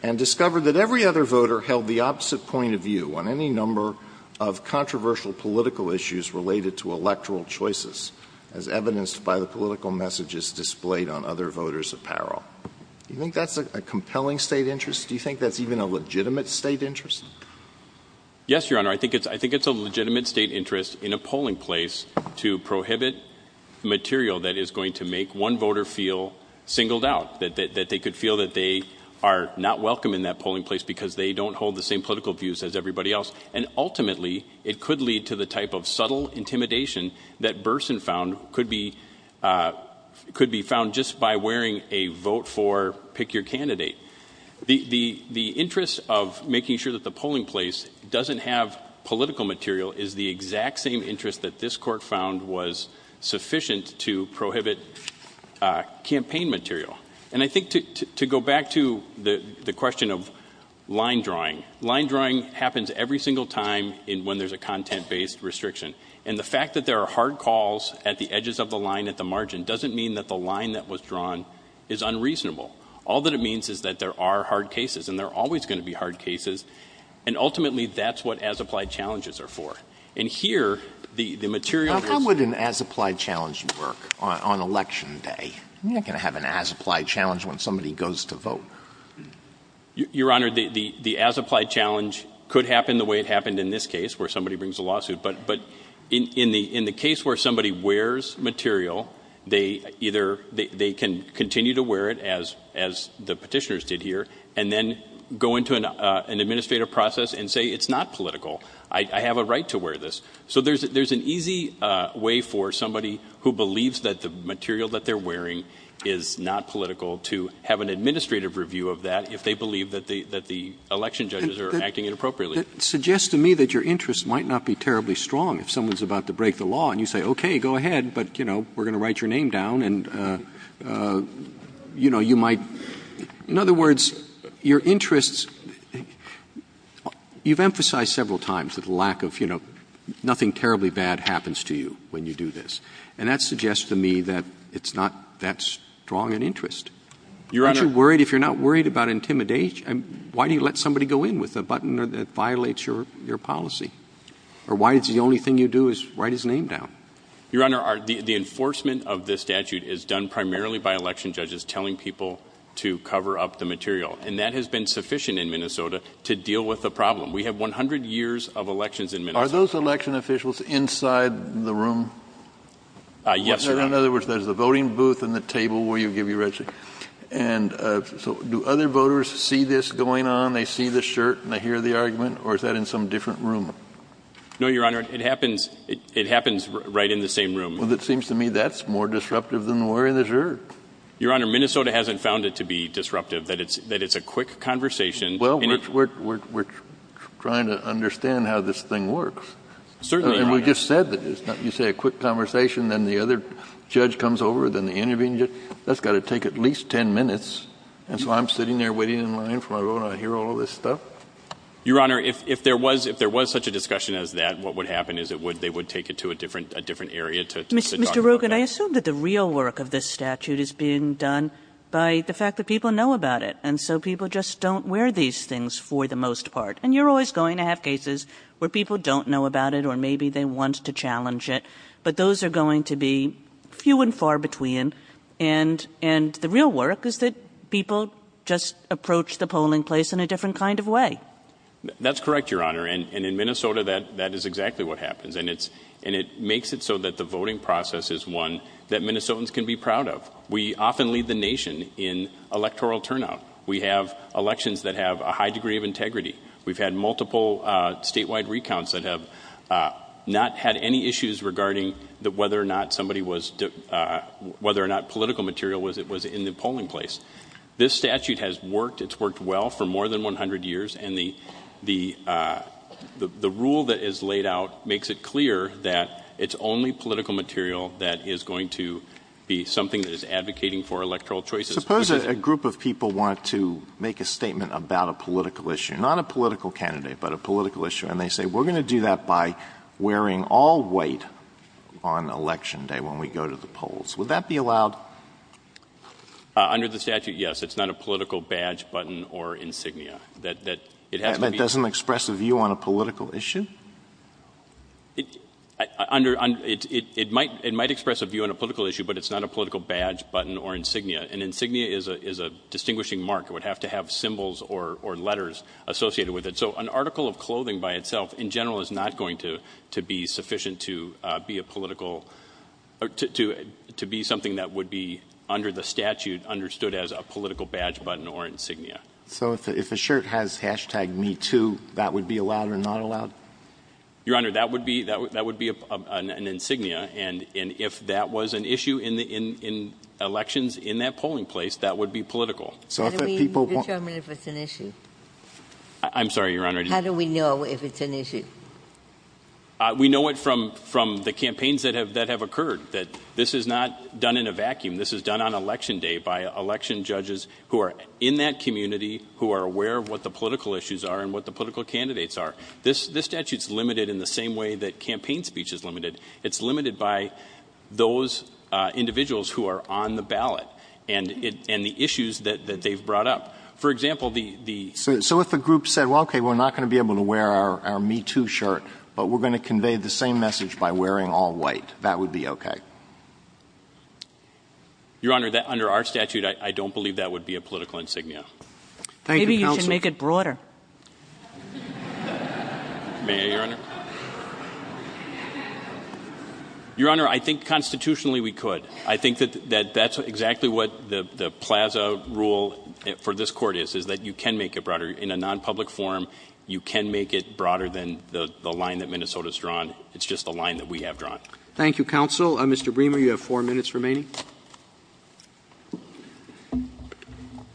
and discovered that every other voter held the opposite point of view on any number of controversial political issues related to electoral choices as evidenced by the political messages displayed on other voters' apparel. Do you think that's a compelling State interest? Do you think that's even a legitimate State interest? Yes, Your Honor. I think it's a legitimate State interest in a polling place to prohibit material that is going to make one voter feel singled out. That they could feel that they are not welcome in that polling place because they don't hold the same political views as everybody else. And ultimately, it could lead to the type of subtle intimidation that Burson found could be found just by wearing a vote for pick your candidate. The interest of making sure that the polling place doesn't have political material is the exact same interest that this Court found was sufficient to prohibit campaign material. And I think to go back to the question of line drawing, line drawing happens every single time when there's a content-based restriction. And the fact that there are hard calls at the edges of the line at the margin doesn't mean that the line that was drawn is unreasonable. All that it means is that there are hard cases, and there are always going to be hard cases. And ultimately, that's what as-applied challenges are for. And here, the material is... How would an as-applied challenge work on Election Day? You're not going to have an as-applied challenge when somebody goes to vote. Your Honor, the as-applied challenge could happen the way it happened in this case, where somebody brings a lawsuit. But in the case where somebody wears material, they either can continue to wear it, as the petitioners did here, and then go into an administrative process and say, it's not political. I have a right to wear this. So there's an easy way for somebody who believes that the material that they're wearing is not political to have an administrative review of that, if they believe that the election judges are acting inappropriately. And that suggests to me that your interest might not be terribly strong if someone's about to break the law, and you say, okay, go ahead, but, you know, we're going to write your name down, and, you know, you might... In other words, your interests... You've emphasized several times that the lack of, you know, nothing terribly bad happens to you when you do this. And that suggests to me that it's not that strong an interest. Your Honor... Aren't you worried, if you're not worried about intimidation, why do you let somebody go in with a button that violates your policy? Or why is the only thing you do is write his name down? Your Honor, the enforcement of this statute is done primarily by election judges telling people to cover up the material. And that has been sufficient in Minnesota to deal with the problem. We have 100 years of elections in Minnesota. Are those election officials inside the room? Yes, Your Honor. In other words, there's a voting booth and the table where you give your register. And so do other voters see this going on? They see the shirt and they hear the argument? Or is that in some different room? No, Your Honor, it happens right in the same room. Well, it seems to me that's more disruptive than wearing the shirt. Your Honor, Minnesota hasn't found it to be disruptive, that it's a quick conversation. Well, we're trying to understand how this thing works. Certainly, Your Honor. And we just said that you say a quick conversation, then the other judge comes over, then the intervening judge. That's got to take at least 10 minutes. And so I'm sitting there waiting in line for my vote and I hear all of this stuff? Your Honor, if there was such a discussion as that, what would happen is they would take it to a different area to talk about that. But I assume that the real work of this statute is being done by the fact that people know about it. And so people just don't wear these things for the most part. And you're always going to have cases where people don't know about it or maybe they want to challenge it. But those are going to be few and far between. And the real work is that people just approach the polling place in a different kind of way. That's correct, Your Honor. And in Minnesota, that is exactly what happens. And it makes it so that the voting process is one that Minnesotans can be proud of. We often lead the nation in electoral turnout. We have elections that have a high degree of integrity. We've had multiple statewide recounts that have not had any issues regarding whether or not political material was in the polling place. This statute has worked. It's worked well for more than 100 years. And the rule that is laid out makes it clear that it's only political material that is going to be something that is advocating for electoral choices. Suppose a group of people want to make a statement about a political issue. Not a political candidate, but a political issue. And they say we're going to do that by wearing all white on election day when we go to the polls. Would that be allowed? Under the statute, yes. It's not a political badge, button, or insignia. That doesn't express a view on a political issue? It might express a view on a political issue, but it's not a political badge, button, or insignia. An insignia is a distinguishing mark. It would have to have symbols or letters associated with it. So an article of clothing by itself, in general, is not going to be sufficient to be something that would be, under the statute, understood as a political badge, button, or insignia. So if a shirt has hashtag Me Too, that would be allowed or not allowed? Your Honor, that would be an insignia. And if that was an issue in elections in that polling place, that would be political. How do we determine if it's an issue? I'm sorry, Your Honor. How do we know if it's an issue? We know it from the campaigns that have occurred. That this is not done in a vacuum. This is done on election day by election judges who are in that community, who are aware of what the political issues are and what the political candidates are. This statute is limited in the same way that campaign speech is limited. It's limited by those individuals who are on the ballot and the issues that they've brought up. For example, the — So if a group said, well, okay, we're not going to be able to wear our Me Too shirt, but we're going to convey the same message by wearing all white, that would be okay? Your Honor, under our statute, I don't believe that would be a political insignia. Thank you, counsel. Maybe you can make it broader. May I, Your Honor? Your Honor, I think constitutionally we could. I think that that's exactly what the plaza rule for this Court is, is that you can make it broader. In a nonpublic forum, you can make it broader than the line that Minnesota's drawn. It's just the line that we have drawn. Thank you, counsel. Mr. Bremer, you have four minutes remaining.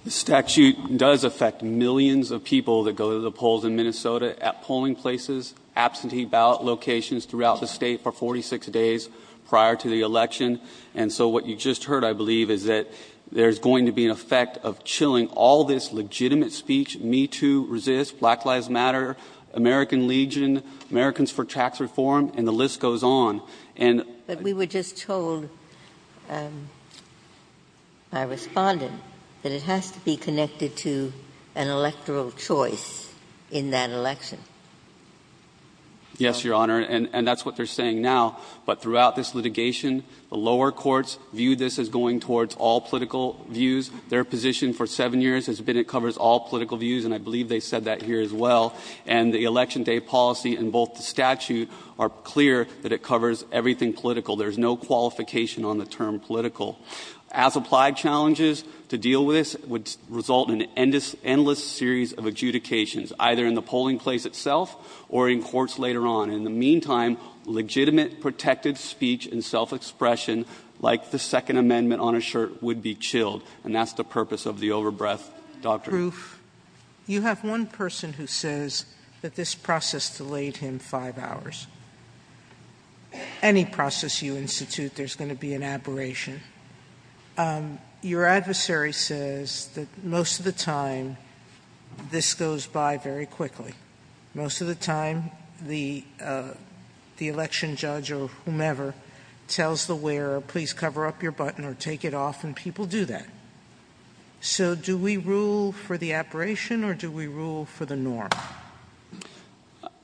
The statute does affect millions of people that go to the polls in Minnesota at polling places, absentee ballot locations throughout the state for 46 days prior to the election. And so what you just heard, I believe, is that there's going to be an effect of chilling all this legitimate speech, Me Too, Resist, Black Lives Matter, American Legion, Americans for Tax Reform, and the list goes on. But we were just told by a respondent that it has to be connected to an electoral choice in that election. Yes, Your Honor, and that's what they're saying now. But throughout this litigation, the lower courts view this as going towards all political views. Their position for seven years has been it covers all political views, and I believe they said that here as well. And the Election Day policy and both the statute are clear that it covers everything political. There's no qualification on the term political. As applied challenges to deal with this would result in an endless series of adjudications, either in the polling place itself or in courts later on. In the meantime, legitimate, protected speech and self-expression, like the Second Amendment on a shirt, would be chilled. And that's the purpose of the over-breath doctrine. Sotomayor, you have one person who says that this process delayed him five hours. Any process you institute, there's going to be an aberration. Your adversary says that most of the time, this goes by very quickly. Most of the time, the election judge or whomever tells the wearer, please cover up your So do we rule for the aberration or do we rule for the norm?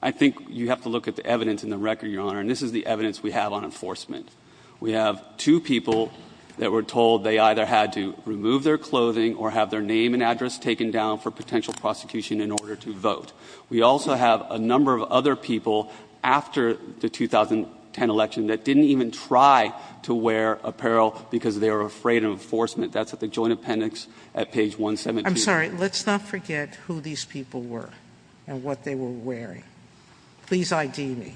I think you have to look at the evidence in the record, Your Honor. And this is the evidence we have on enforcement. We have two people that were told they either had to remove their clothing or have their name and address taken down for potential prosecution in order to vote. We also have a number of other people after the 2010 election that didn't even try to wear apparel because they were afraid of enforcement. That's at the joint appendix at page 117. I'm sorry. Let's not forget who these people were and what they were wearing. Please ID me,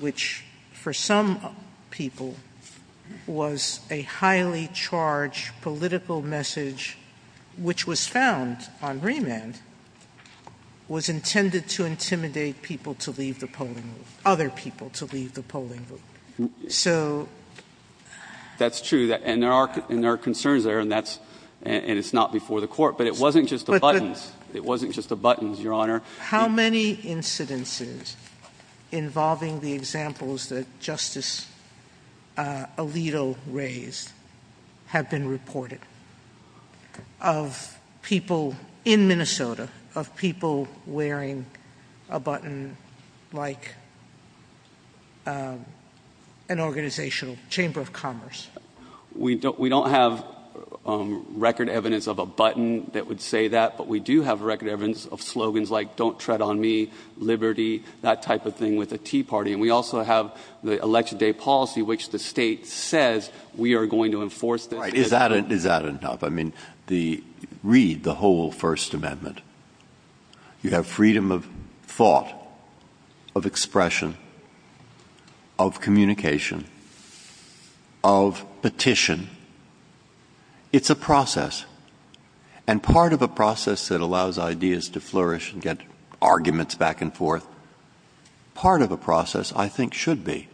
which for some people was a highly charged political message, which was found on remand, was intended to intimidate people to leave the polling booth, other people to leave the polling booth. So That's true. And there are concerns there. And it's not before the court. But it wasn't just the buttons. It wasn't just the buttons, Your Honor. How many incidences involving the examples that Justice Alito raised have been reported of people in Minnesota, of people wearing a button like an organizational chamber of commerce? We don't have record evidence of a button that would say that. But we do have record evidence of slogans like don't tread on me, liberty, that type of thing with the Tea Party. And we also have the election day policy, which the state says we are going to enforce. Right. Is that enough? I mean, read the whole First Amendment. You have freedom of thought, of expression, of communication, of petition. It's a process. And part of a process that allows ideas to flourish and get arguments back and forth, part of a process I think should be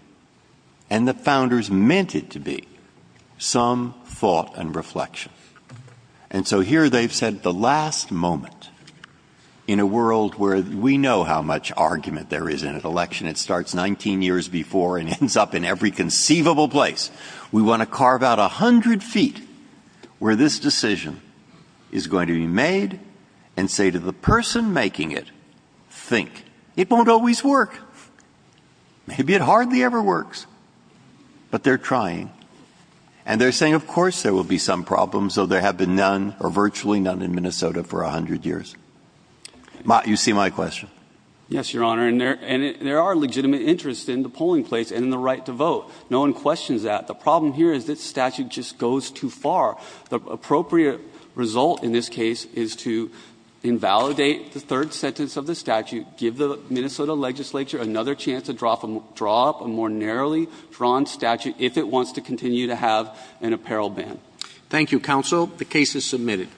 and the founders meant it to be some thought and reflection. And so here they've said the last moment in a world where we know how much argument there is in an election. It starts 19 years before and ends up in every conceivable place. We want to carve out 100 feet where this decision is going to be made and say to the person making it, think. It won't always work. Maybe it hardly ever works. But they're trying. And they're saying of course there will be some problems, though there have been none or virtually none in Minnesota for 100 years. You see my question? Yes, Your Honor. And there are legitimate interests in the polling place and in the right to vote. No one questions that. The problem here is this statute just goes too far. The appropriate result in this case is to invalidate the third sentence of the statute, give the Minnesota legislature another chance to draw up a more narrowly drawn statute if it wants to continue to have an apparel ban. Thank you, counsel. The case is submitted.